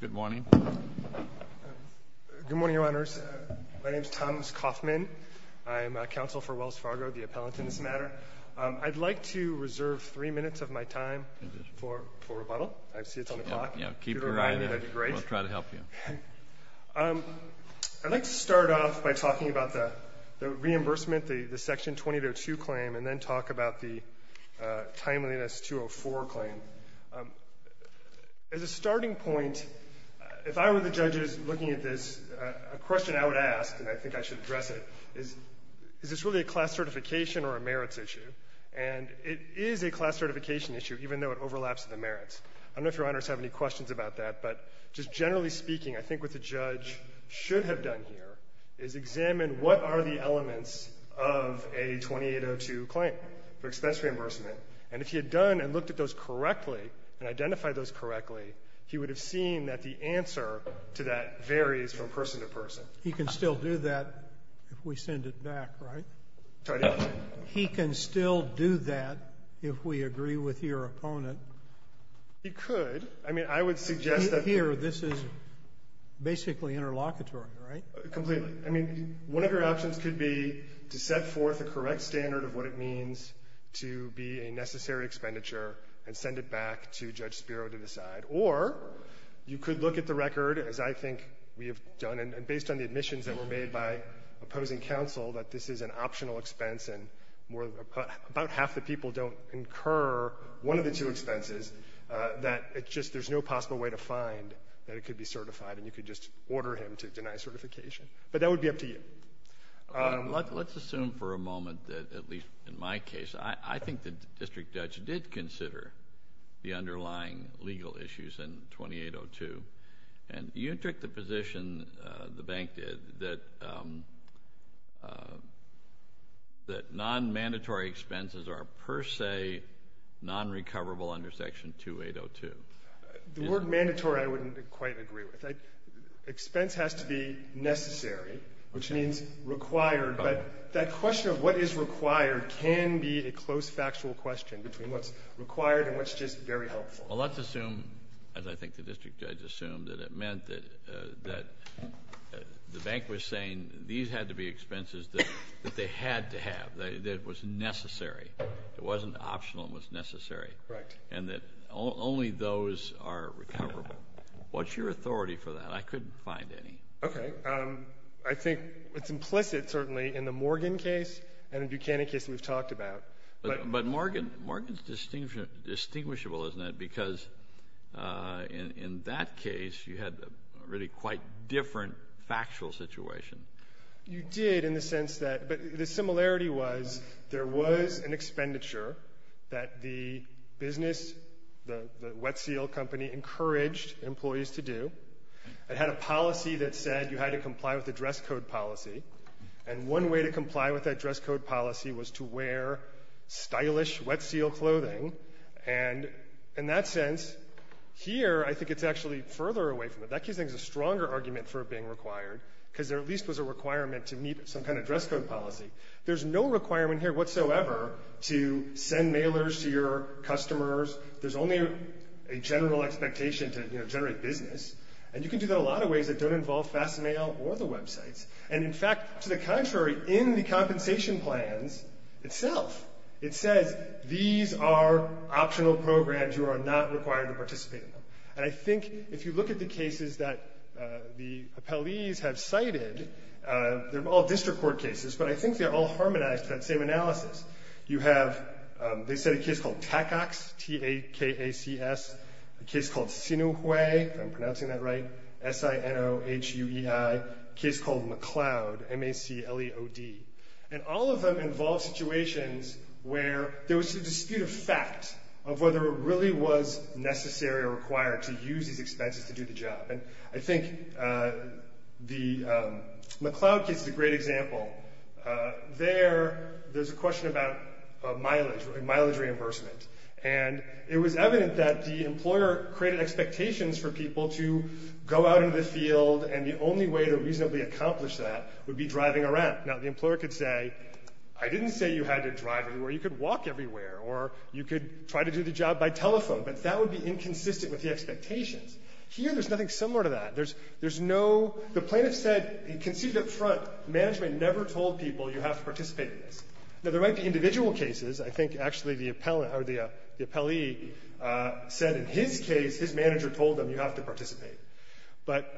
Good morning. Good morning, Your Honors. My name is Thomas Kaufman. I'm a counsel for Wells Fargo, the appellant in this matter. I'd like to reserve three minutes of my time for rebuttal. I see it's on the clock. Keep your eye on it. We'll try to help you. I'd like to start off by talking about the reimbursement, the Section 2802 claim, and then talk about the timeliness 204 claim. As a point, if I were the judges looking at this, a question I would ask, and I think I should address it, is, is this really a class certification or a merits issue? And it is a class certification issue, even though it overlaps with the merits. I don't know if Your Honors have any questions about that, but just generally speaking, I think what the judge should have done here is examine what are the elements of a 2802 claim for expense reimbursement. And if he had done and looked at those correctly and identified those correctly, he would have seen that the answer to that varies from person to person. He can still do that if we send it back, right? He can still do that if we agree with your opponent. He could. I mean, I would suggest that here this is basically interlocutory, right? Completely. I mean, one of your options could be to set forth a correct standard of what it means to be a necessary expenditure and send it back to Judge Spiro to decide. Or you could look at the record, as I think we have done, and based on the admissions that were made by opposing counsel, that this is an optional expense and more — about half the people don't incur one of the two expenses, that it just — there's no possible way to find that it could be certified, and you could just order him to deny certification. But that would be up to you. Let's assume for a moment that, at least in my case, I think the District Judge did consider the underlying legal issues in 2802. And you took the position, the bank did, that non-mandatory expenses are per se non-recoverable under Section 2802. The word mandatory I wouldn't quite agree with. Expense has to be necessary, which means required. But that question of what is required can be a close factual question between what's required and what's just very helpful. Well, let's assume, as I think the District Judge assumed, that it meant that the bank was saying these had to be expenses that they had to have, that it was necessary. It wasn't optional, it was necessary. Correct. And that only those are recoverable. What's your authority for that? I couldn't find any. Okay. I think it's implicit, certainly, in the Morgan case and the Buchanan case we've talked about. But Morgan's distinguishable, isn't it? Because in that case, you had a really quite different factual situation. You did, in the sense that the similarity was there was an expenditure that the business, the wet seal company, encouraged employees to do. It had a policy that said you had to comply with the dress code policy. And one way to comply with that dress code policy was to wear stylish wet seal clothing. And in that sense, here, I think it's actually further away from it. That case, I think, is a stronger argument for it being required because there at least was a requirement to meet some kind of dress code policy. There's no requirement here whatsoever to send mailers to your customers. There's only a general expectation to generate business. And you can do that a lot of ways that don't involve fast mail or the websites. And in fact, to the contrary, in the compensation plans itself, it says these are optional programs. You are not required to participate in And I think if you look at the cases that the appellees have cited, they're all district court cases, but I think they're all harmonized to that same analysis. You have, they said a case called TACACS, T-A-C-A-C-S, a case called SINOHEI, if I'm pronouncing that right, S-I-N-O-H-U-E-I, a case called McLeod, M-A-C-L-E-O-D. And all of them involve situations where there was a dispute of fact of whether it really was necessary or required to use these expenses to do the job. And I think the McLeod case is a great example. There, there's a question about mileage, mileage reimbursement. And it was evident that the employer created expectations for people to go out into the field and the only way to reasonably accomplish that would be driving around. Now, the employer could say, I didn't say you had to drive everywhere, you could walk everywhere, or you could try to do the job by telephone, but that would be inconsistent with the expectations. Here, there's nothing similar to that. There's, there's no, the plaintiff said, he conceded up front, management never told people you have to participate in this. Now, there might be individual cases. I think actually the appellant or the, the appellee said in his case, his manager told him you have to participate. But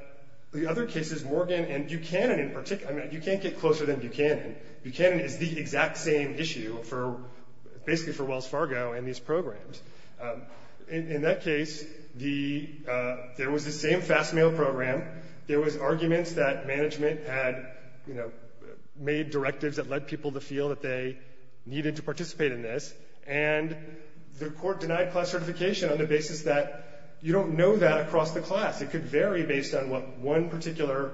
the other cases, Morgan and Buchanan in particular, I mean, you can't get closer than basically for Wells Fargo and these programs. In that case, the, there was the same fast mail program. There was arguments that management had, you know, made directives that led people to feel that they needed to participate in this. And the court denied class certification on the basis that you don't know that across the class. It could vary based on what one particular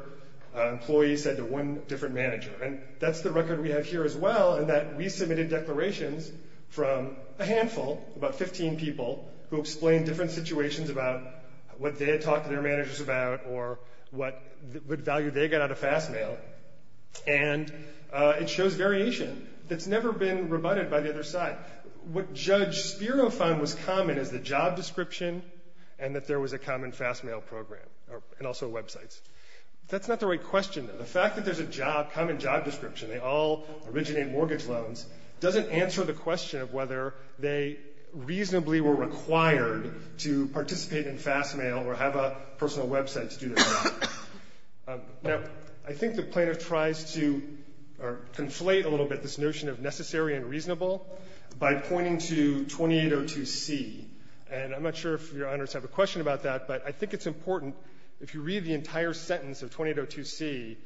employee said to one different manager. And that's the record we have here as well, in that we submitted declarations from a handful, about 15 people, who explained different situations about what they had talked to their managers about or what, what value they got out of fast mail. And it shows variation that's never been rebutted by the other side. What Judge Spiro found was common is the job description and that there was a common fast mail program, and also websites. That's not the right question, though. The fact that there's a job, common job description, they all originate mortgage loans, doesn't answer the question of whether they reasonably were required to participate in fast mail or have a personal website to do their job. Now, I think the Plaintiff tries to conflate a little bit this notion of necessary and reasonable by pointing to 2802c. And I'm not sure if Your Honors have a question about that, but I think it's important, if you read the entire sentence of 2802c,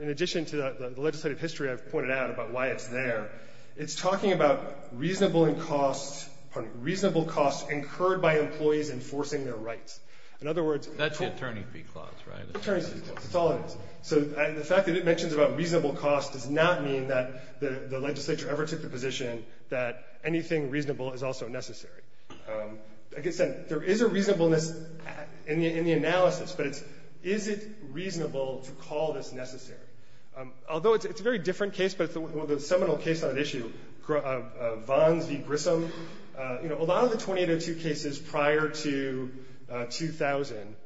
in addition to the legislative history I've pointed out about why it's there, it's talking about reasonable and costs, pardon me, reasonable costs incurred by employees enforcing their rights. In other words, That's the Attorney's Fee Clause, right? Attorney's Fee Clause. It's all it is. So the fact that it mentions about reasonable costs does not mean that the legislature ever took the position that anything reasonable is also necessary. Like I said, there is a reasonableness in the analysis, but it's is it reasonable to call this necessary? Although it's a very different case, but the seminal case on the issue, Vons v. Grissom, you know, a lot of the 2802 cases prior to 2000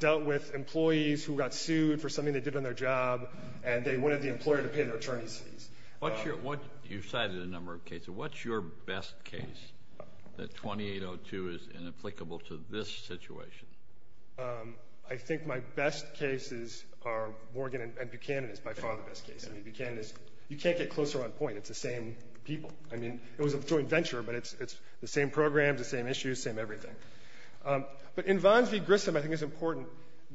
dealt with employees who got sued for something they did on their job and they wanted the employer to pay their attorney's fees. You've cited a number of cases. What's your best case that 2802 is inapplicable to this situation? I think my best cases are Morgan and Buchanan is by far the best case. I mean, Buchanan is, you can't get closer on point. It's the same people. I mean, it was a joint venture, but it's the same programs, the same issues, same everything. But in Vons v. Grissom, I think it's important.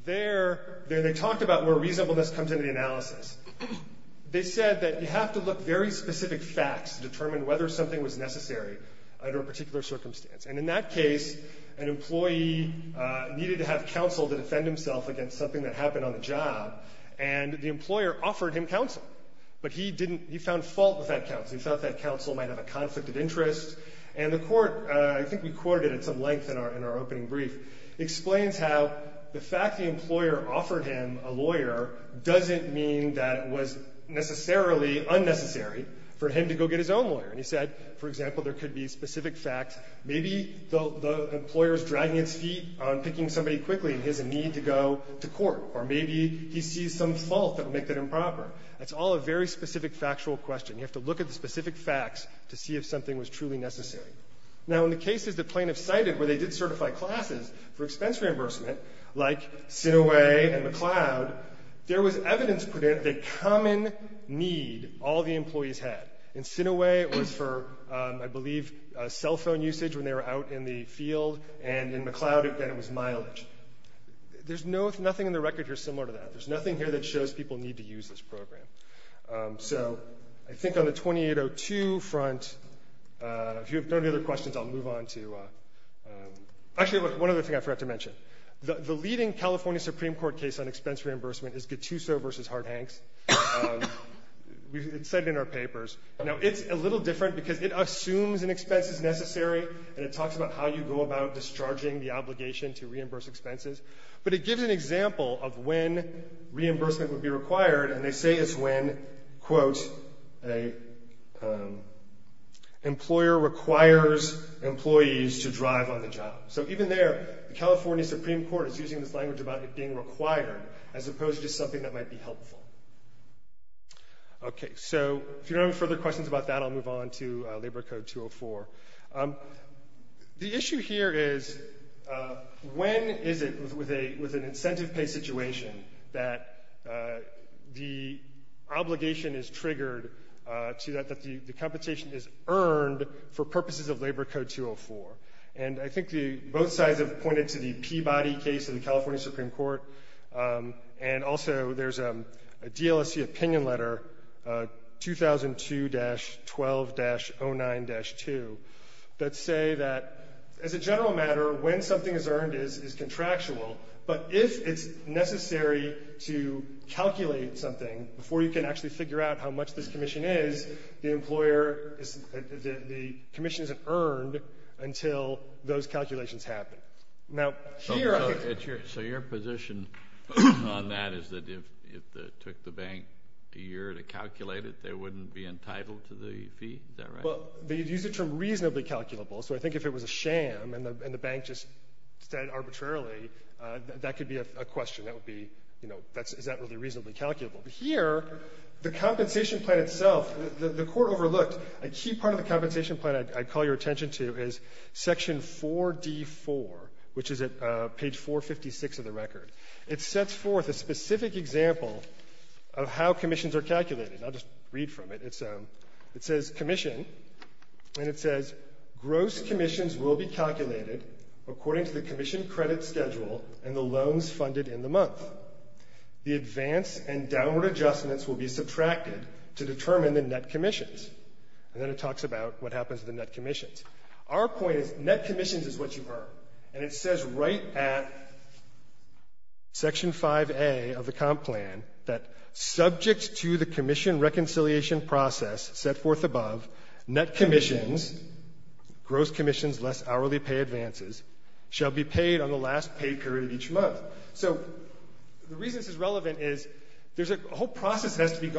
There they talked about where reasonableness comes into the analysis. They said that you have to look very specific facts to determine whether something was necessary under a particular circumstance. And in that case, an employee needed to have counsel to defend himself against something that happened on the job, and the employer offered him counsel. But he didn't, he found fault with that counsel. He thought that counsel might have a conflict of interest. And the court, I think we quoted it at some length in our opening brief, explains how the fact the employer offered him a lawyer doesn't mean that it was necessarily unnecessary for him to go get his own lawyer. And he said, for example, there could be specific facts. Maybe the employer is dragging its feet on picking somebody quickly, and he has a need to go to court. Or maybe he sees some fault that would make that improper. It's all a very specific factual question. You have to look at the specific facts to see if something was truly necessary. Now, in the cases that plaintiffs cited where they did certify classes for expense reimbursement, like Sinaway and McLeod, there was evidence that common need all the employees had. In Sinaway, it was for, I believe, cell phone usage when they were out in the field. And in McLeod, again, it was mileage. There's nothing in the record here similar to that. There's nothing here that shows people need to use this program. So I think on the 2802 front, if you have no other questions, I'll move on to — actually, one other thing I forgot to mention. The leading California Supreme Court case on expense reimbursement is Gattuso v. Hart-Hanks. It's cited in our papers. Now, it's a little different because it assumes an expense is necessary, and it talks about how you go about discharging the obligation to reimburse expenses. But it gives an example of when reimbursement would be required, and they say it's when, quote, an employer requires employees to drive on the job. So even there, the California Supreme Court is using this language about it being required, as opposed to just something that might be helpful. Okay, so if you don't have any further questions about that, I'll move on to Labor Code 204. The issue here is, when is it, with an incentive pay situation, that the obligation is triggered to that the compensation is earned for purposes of Labor Code 204? And I think both sides have pointed to the Peabody case in the California Supreme Court, and also there's a DLSC opinion letter, 2002-12-09-2, that say that, as a general matter, when something is earned is contractual, but if it's necessary to calculate something before you can actually figure out how much this commission is, the employer is, the commission isn't earned until those calculations happen. Now, here I think So your position on that is that if it took the bank a year to calculate it, they wouldn't be entitled to the fee? Is that right? Well, they use the term reasonably calculable, so I think if it was a sham, and the bank just said arbitrarily, that could be a question. That would be, you know, is that really reasonably calculable? But here, the compensation plan itself, the Court overlooked, a key part of 4D4, which is at page 456 of the record. It sets forth a specific example of how commissions are calculated, and I'll just read from it. It says, commission, and it says, gross commissions will be calculated according to the commission credit schedule and the loans funded in the month. The advance and downward adjustments will be subtracted to determine the net commissions. And then it talks about what happens to the net commissions. Our point is, net commissions is what you earn, and it says right at section 5A of the comp plan that, subject to the commission reconciliation process set forth above, net commissions, gross commissions less hourly pay advances, shall be paid on the last pay period each month. So the reason this is relevant is there's a whole process that has to be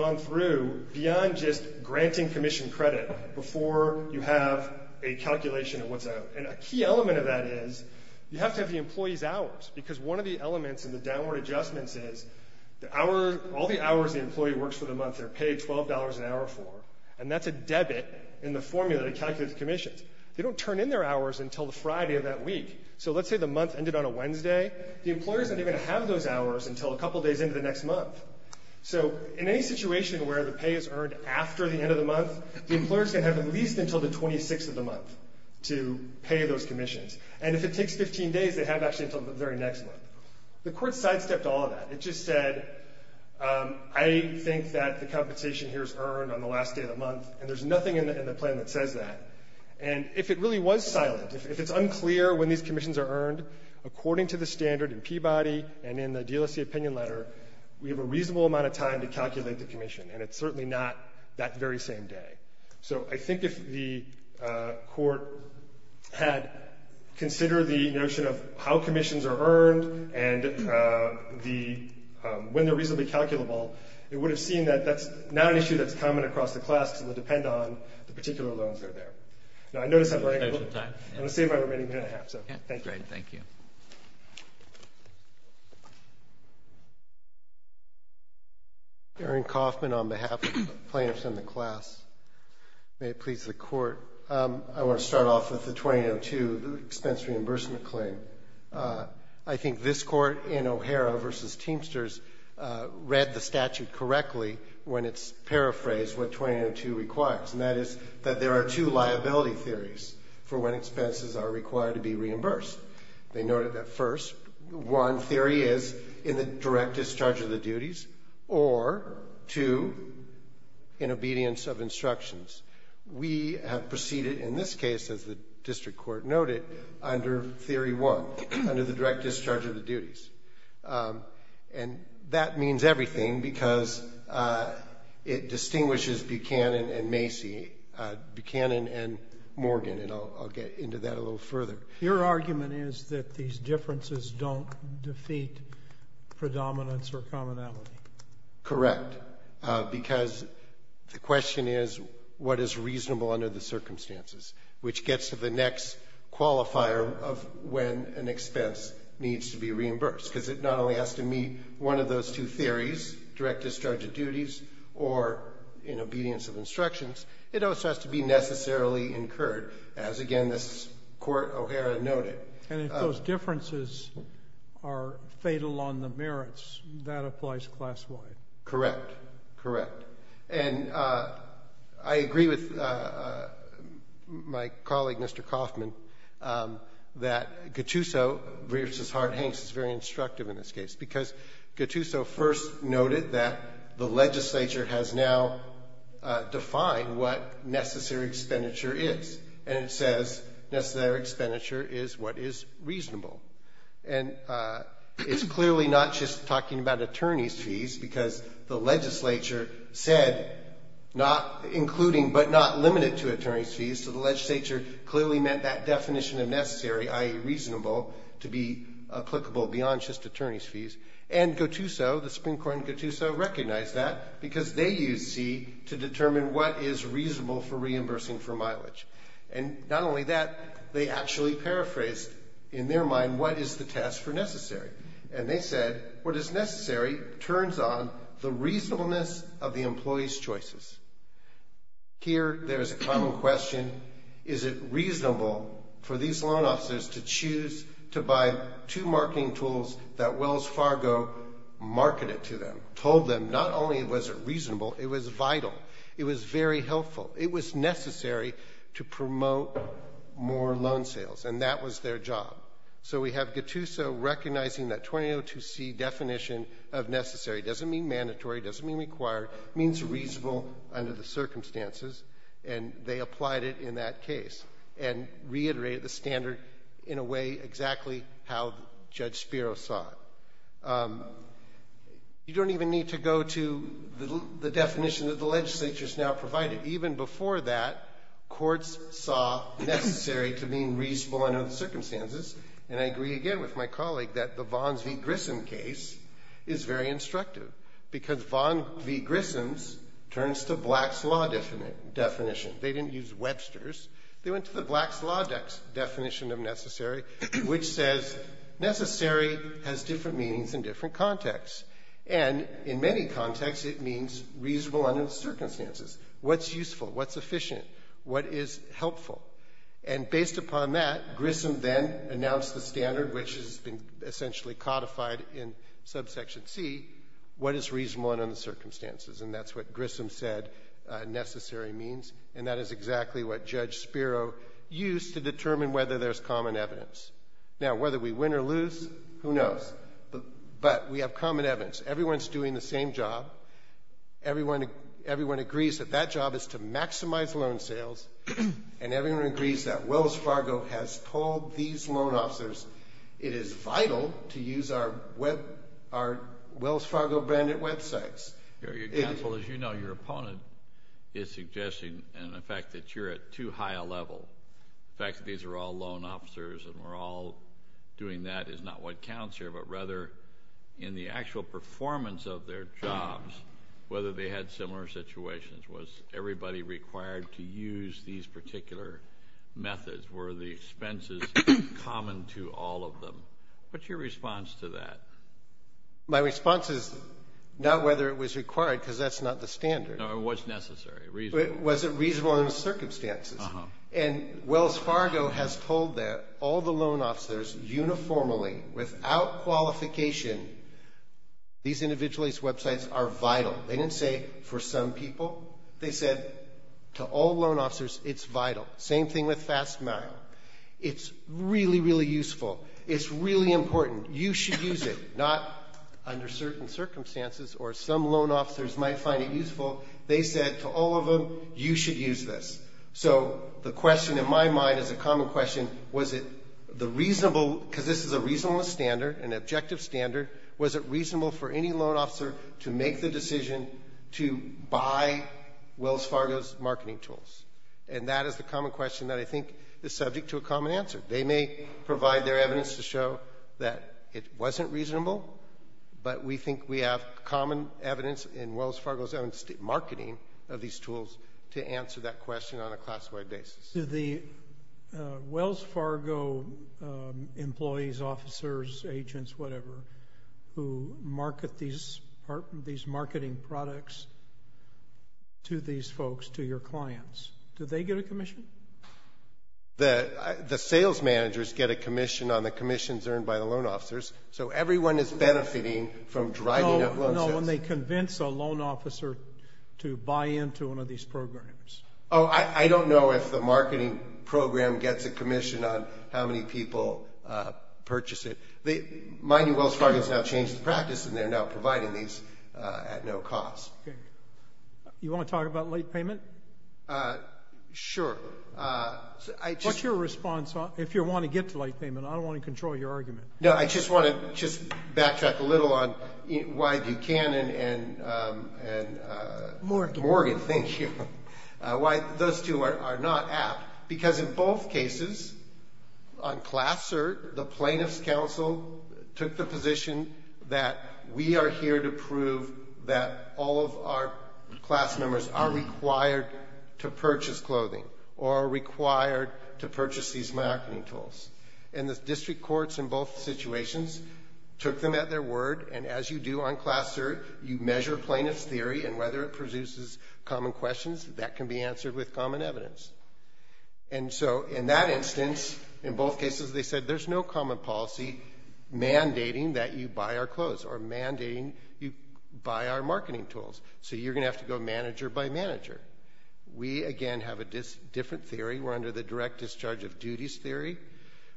a calculation of what's out. And a key element of that is you have to have the employee's hours, because one of the elements in the downward adjustments is the hour, all the hours the employee works for the month, they're paid $12 an hour for, and that's a debit in the formula to calculate the commissions. They don't turn in their hours until the Friday of that week. So let's say the month ended on a Wednesday. The employer doesn't even have those hours until a couple days into the next month. So in any situation where the pay is earned after the end of the month, the employer's going to have at least until the 26th of the month to pay those commissions. And if it takes 15 days, they have actually until the very next month. The Court sidestepped all of that. It just said, I think that the compensation here is earned on the last day of the month, and there's nothing in the plan that says that. And if it really was silent, if it's unclear when these commissions are earned, according to the standard in Peabody and in the DLSC opinion letter, we have a reasonable amount of time to calculate the commission, and it's certainly not that very same day. So I think if the Court had considered the notion of how commissions are earned and when they're reasonably calculable, it would have seen that that's not an issue that's common across the class and would depend on the particular loans that are there. Now, I notice I'm running out of time. I'm going to save my remaining minute and a half, so thank you. Thank you. Darren Kaufman on behalf of the plaintiffs in the class. May it please the Court. I want to start off with the 2002 expense reimbursement claim. I think this Court in O'Hara v. Teamsters read the statute correctly when it's paraphrased what 2002 requires, and that is that there are two liability theories for when expenses are required to be paid. They noted that first, one theory is in the direct discharge of the duties or two, in obedience of instructions. We have proceeded in this case, as the district court noted, under theory one, under the direct discharge of the duties. And that means everything because it distinguishes Buchanan and Macy, Buchanan and Morgan, and I'll get into that a little further. Your argument is that these differences don't defeat predominance or commonality. Correct, because the question is what is reasonable under the circumstances, which gets to the next qualifier of when an expense needs to be reimbursed, because it not only has to meet one of those two theories, direct discharge of duties or in obedience of instructions, it also has to be necessarily incurred, as again this Court, O'Hara, noted. And if those differences are fatal on the merits, that applies class-wide. Correct. Correct. And I agree with my colleague, Mr. Kaufman, that Gattuso v. Hart-Hanks is very instructive in this case, because Gattuso first noted that the legislature has now defined what necessary expenditure is, and it says necessary expenditure is what is reasonable. And it's clearly not just talking about attorneys' fees, because the legislature said, including but not limited to attorneys' fees, so the legislature clearly meant that definition of necessary, i.e. reasonable, to be applicable beyond just attorneys' fees. And Gattuso, the Supreme Court in Gattuso, recognized that, because they used C to determine what is reasonable for reimbursing for mileage. And not only that, they actually paraphrased in their mind what is the task for necessary. And they said, what is necessary turns on the reasonableness of the employee's choices. Here there is a common question, is it reasonable for these loan officers to choose to buy two marketing tools that Wells Fargo marketed to them, told them not only was it reasonable, it was vital. It was very helpful. It was necessary to promote more loan sales, and that was their job. So we have Gattuso recognizing that 2002C definition of necessary doesn't mean mandatory, doesn't mean required, means reasonable under the circumstances, and they applied it in that case, and reiterated the standard in a way exactly how Judge Spiro saw it. You don't even need to go to the definition that the legislature has now provided. Even before that, courts saw necessary to mean reasonable under the circumstances, and I agree again with my colleague that the Vons v. Grissom case is very instructive, because Vons v. Grissoms turns to Black's law definition. They didn't use Webster's. They went to the Black's law definition of necessary, which says necessary has different meanings in different contexts, and in many contexts it means reasonable under the circumstances. What's useful? What's efficient? What is helpful? And based upon that, Grissom then announced the standard, which has been essentially codified in Subsection C, what is reasonable under the circumstances, and that's what Grissom said necessary means, and that is exactly what Judge Spiro used to determine whether there's common evidence. Now, whether we win or lose, who knows, but we have common evidence. Everyone's doing the same job. Everyone agrees that that job is to maximize loan sales, and everyone agrees that Wells Fargo has told these loan officers it is vital to use our Wells Fargo branded websites. Your counsel, as you know, your opponent is suggesting, in effect, that you're at too high a level. The fact that these are all loan officers and we're all doing that is not what counts here, but rather in the actual performance of their jobs, whether they had similar situations. Was everybody required to use these particular methods? Were the expenses common to all of them? What's your response to that? My response is not whether it was required because that's not the standard. No, it was necessary, reasonable. Was it reasonable under the circumstances? Uh-huh. And Wells Fargo has told that all the loan officers uniformly, without qualification, these individualized websites are vital. They didn't say for some people. They said to all loan officers, it's vital. Same thing with FastMile. It's really, really useful. It's really important. You should use it, not under certain circumstances or some loan officers might find it useful. They said to all of them, you should use this. So the question in my mind is a common question, was it the reasonable, because this is a reasonable standard, an objective standard, was it reasonable for any loan officer to make the decision to buy Wells Fargo's marketing tools? And that is the common question that I think is subject to a common answer. They may provide their evidence to show that it wasn't reasonable, but we think we have common evidence in Wells Fargo's own marketing of these tools to answer that question on a class-wide basis. So the Wells Fargo employees, officers, agents, whatever, who market these marketing products to these folks, to your clients, do they get a commission? The sales managers get a commission on the commissions earned by the loan officers, so everyone is benefiting from driving up loan sales. No, no, when they convince a loan officer to buy into one of these programs. Oh, I don't know if the marketing program gets a commission on how many people purchase it. Mind you, Wells Fargo has now changed the practice and they're now providing these at no cost. Okay. You want to talk about late payment? Sure. What's your response if you want to get to late payment? I don't want to control your argument. No, I just want to backtrack a little on why Buchanan and... Morgan. Morgan, thank you. Why those two are not apt. Because in both cases, on class cert, the plaintiff's counsel took the position that we are here to prove that all of our class members are required to purchase clothing or are required to purchase these marketing tools. And the district courts in both situations took them at their word, and as you do on class cert, you measure plaintiff's theory and whether it produces common questions, that can be answered with common evidence. And so, in that instance, in both cases, they said there's no common policy mandating that you buy our clothes or mandating you buy our marketing tools, so you're going to have to go manager by manager. We, again, have a different theory. We're under the direct discharge of duties theory,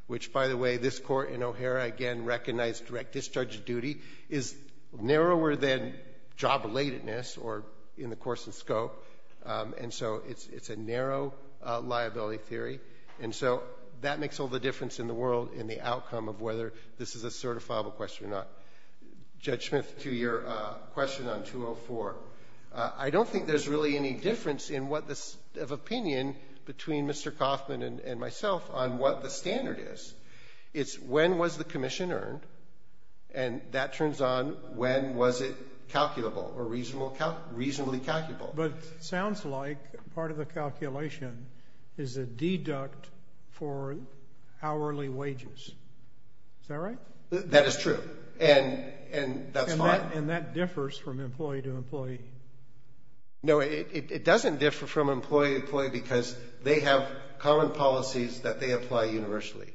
which, by the way, this court in O'Hara, again, recognized direct discharge of duty, is narrower than job-relatedness or in the course of scope. And so it's a narrow liability theory. And so that makes all the difference in the world in the outcome of whether this is a certifiable question or not. Judge Smith, to your question on 204, I don't think there's really any difference in what the opinion between Mr. Kaufman and myself on what the standard is. It's when was the commission earned, and that turns on when was it calculable or reasonably calculable. But it sounds like part of the calculation is a deduct for hourly wages. Is that right? That is true, and that's fine. And that differs from employee to employee. No, it doesn't differ from employee to employee because they have common policies that they apply universally.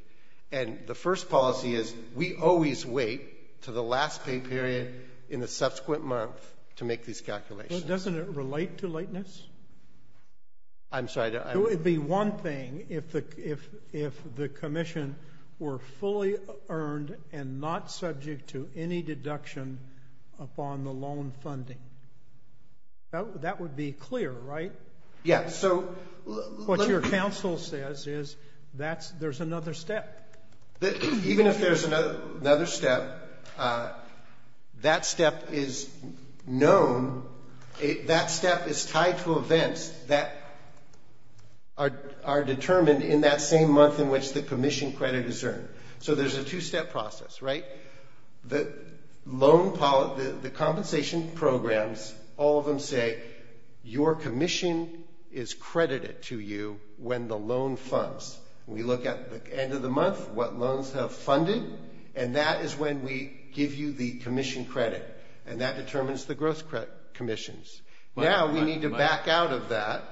And the first policy is we always wait to the last pay period in the subsequent month to make these calculations. Well, doesn't it relate to lateness? I'm sorry. It would be one thing if the commission were fully earned and not subject to any deduction upon the loan funding. That would be clear, right? Yes. What your counsel says is there's another step. Even if there's another step, that step is known, that step is tied to events that are determined in that same month in which the commission credit is earned. So there's a two-step process, right? The compensation programs, all of them say your commission is credited to you when the loan funds. We look at the end of the month, what loans have funded, and that is when we give you the commission credit, and that determines the growth commissions. Now we need to back out of that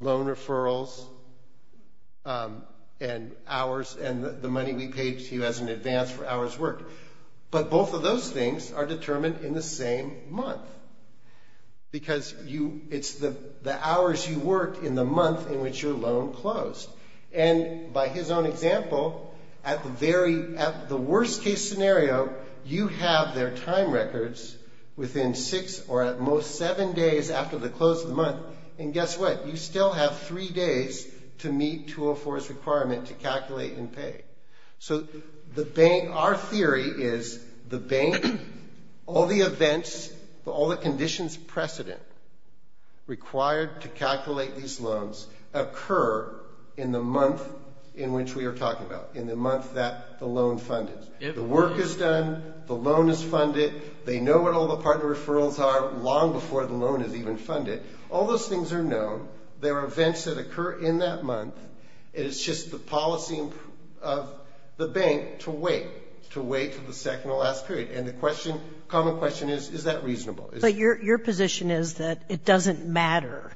loan referrals and the money we paid to you as an advance for hours worked. But both of those things are determined in the same month because it's the hours you worked in the month in which your loan closed. And by his own example, at the worst case scenario, you have their time records within six or at most seven days after the close of the month, and guess what? You still have three days to meet 204's requirement to calculate and pay. So our theory is the bank, all the events, all the conditions precedent required to calculate these loans occur in the month in which we are talking about, in the month that the loan funded. The work is done, the loan is funded, they know what all the partner referrals are long before the loan is even funded. All those things are known. There are events that occur in that month. It is just the policy of the bank to wait, to wait until the second or last period. And the question, common question is, is that reasonable? But your position is that it doesn't matter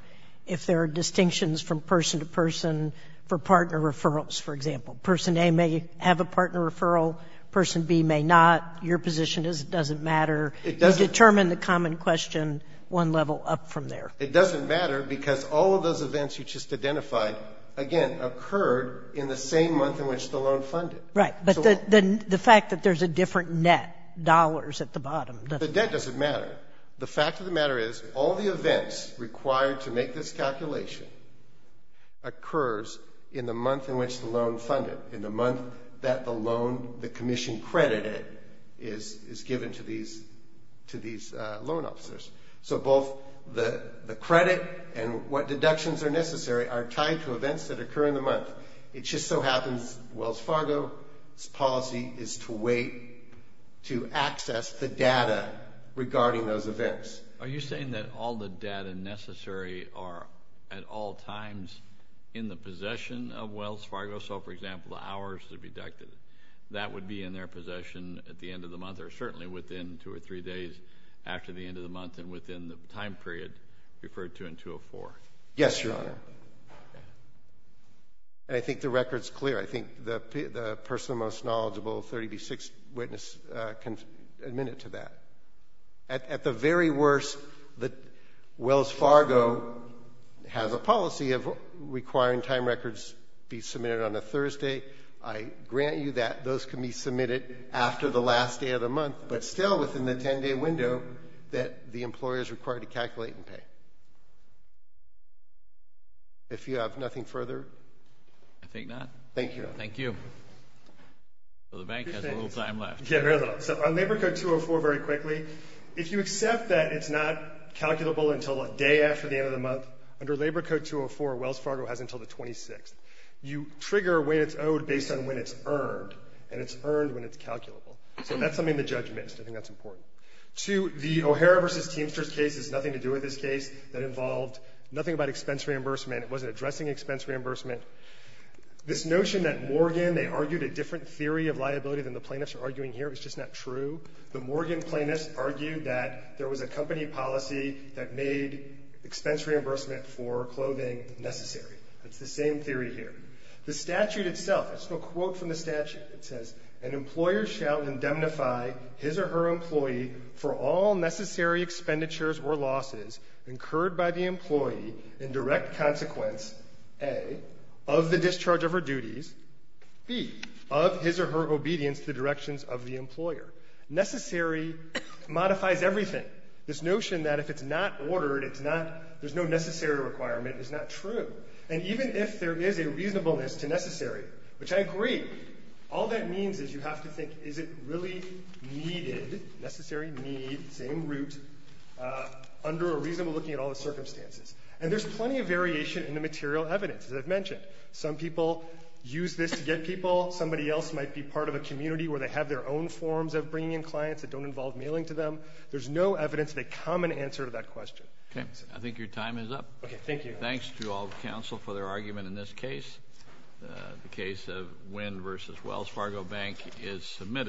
if there are distinctions from person to person for partner referrals, for example. Person A may have a partner referral, person B may not. Your position is it doesn't matter. It doesn't. Determine the common question one level up from there. It doesn't matter because all of those events you just identified, again, occurred in the same month in which the loan funded. Right. But the fact that there's a different net, dollars at the bottom. The debt doesn't matter. The fact of the matter is all the events required to make this calculation occurs in the month in which the loan funded, in the month that the loan, the commission credited is given to these loan officers. So both the credit and what deductions are necessary are tied to events that occur in the month. It just so happens Wells Fargo's policy is to wait to access the data regarding those events. Are you saying that all the data necessary are at all times in the possession of Wells Fargo? So, for example, the hours that are deducted, that would be in their possession at the end of the month or certainly within two or three days after the end of the month and within the time period referred to in 204. Yes, Your Honor. And I think the record's clear. I think the person, the most knowledgeable 30B6 witness can admit it to that. At the very worst, Wells Fargo has a policy of requiring time records be submitted on a Thursday. I grant you that those can be submitted after the last day of the month, but still within the 10-day window that the employer is required to calculate and pay. If you have nothing further. I think not. Thank you, Your Honor. Thank you. So the bank has a little time left. Yeah, very little. So on Labor Code 204, very quickly, if you accept that it's not calculable until a day after the end of the month, under Labor Code 204, Wells Fargo has until the 26th. You trigger when it's owed based on when it's earned, and it's earned when it's calculable. So that's something the judge missed. I think that's important. Two, the O'Hara v. Teamsters case has nothing to do with this case. That involved nothing about expense reimbursement. It wasn't addressing expense reimbursement. This notion that Morgan, they argued a different theory of liability than the plaintiffs are arguing here. It's just not true. The Morgan plaintiffs argued that there was a company policy that made expense reimbursement for clothing necessary. It's the same theory here. The statute itself, it's a quote from the statute. It says, An employer shall indemnify his or her employee for all necessary expenditures or losses incurred by the employee in direct consequence, A, of the discharge of her duties, B, of his or her obedience to the directions of the employer. Necessary modifies everything. This notion that if it's not ordered, there's no necessary requirement is not true. And even if there is a reasonableness to necessary, which I agree, all that means is you have to think is it really needed, necessary need, same root, under a reasonable looking at all the circumstances. And there's plenty of variation in the material evidence that I've mentioned. Some people use this to get people. Somebody else might be part of a community where they have their own forms of bringing in clients that don't involve mailing to them. There's no evidence of a common answer to that question. Okay. I think your time is up. Okay. Thank you. Okay. Thanks to all the counsel for their argument in this case. The case of Wynn v. Wells Fargo Bank is submitted.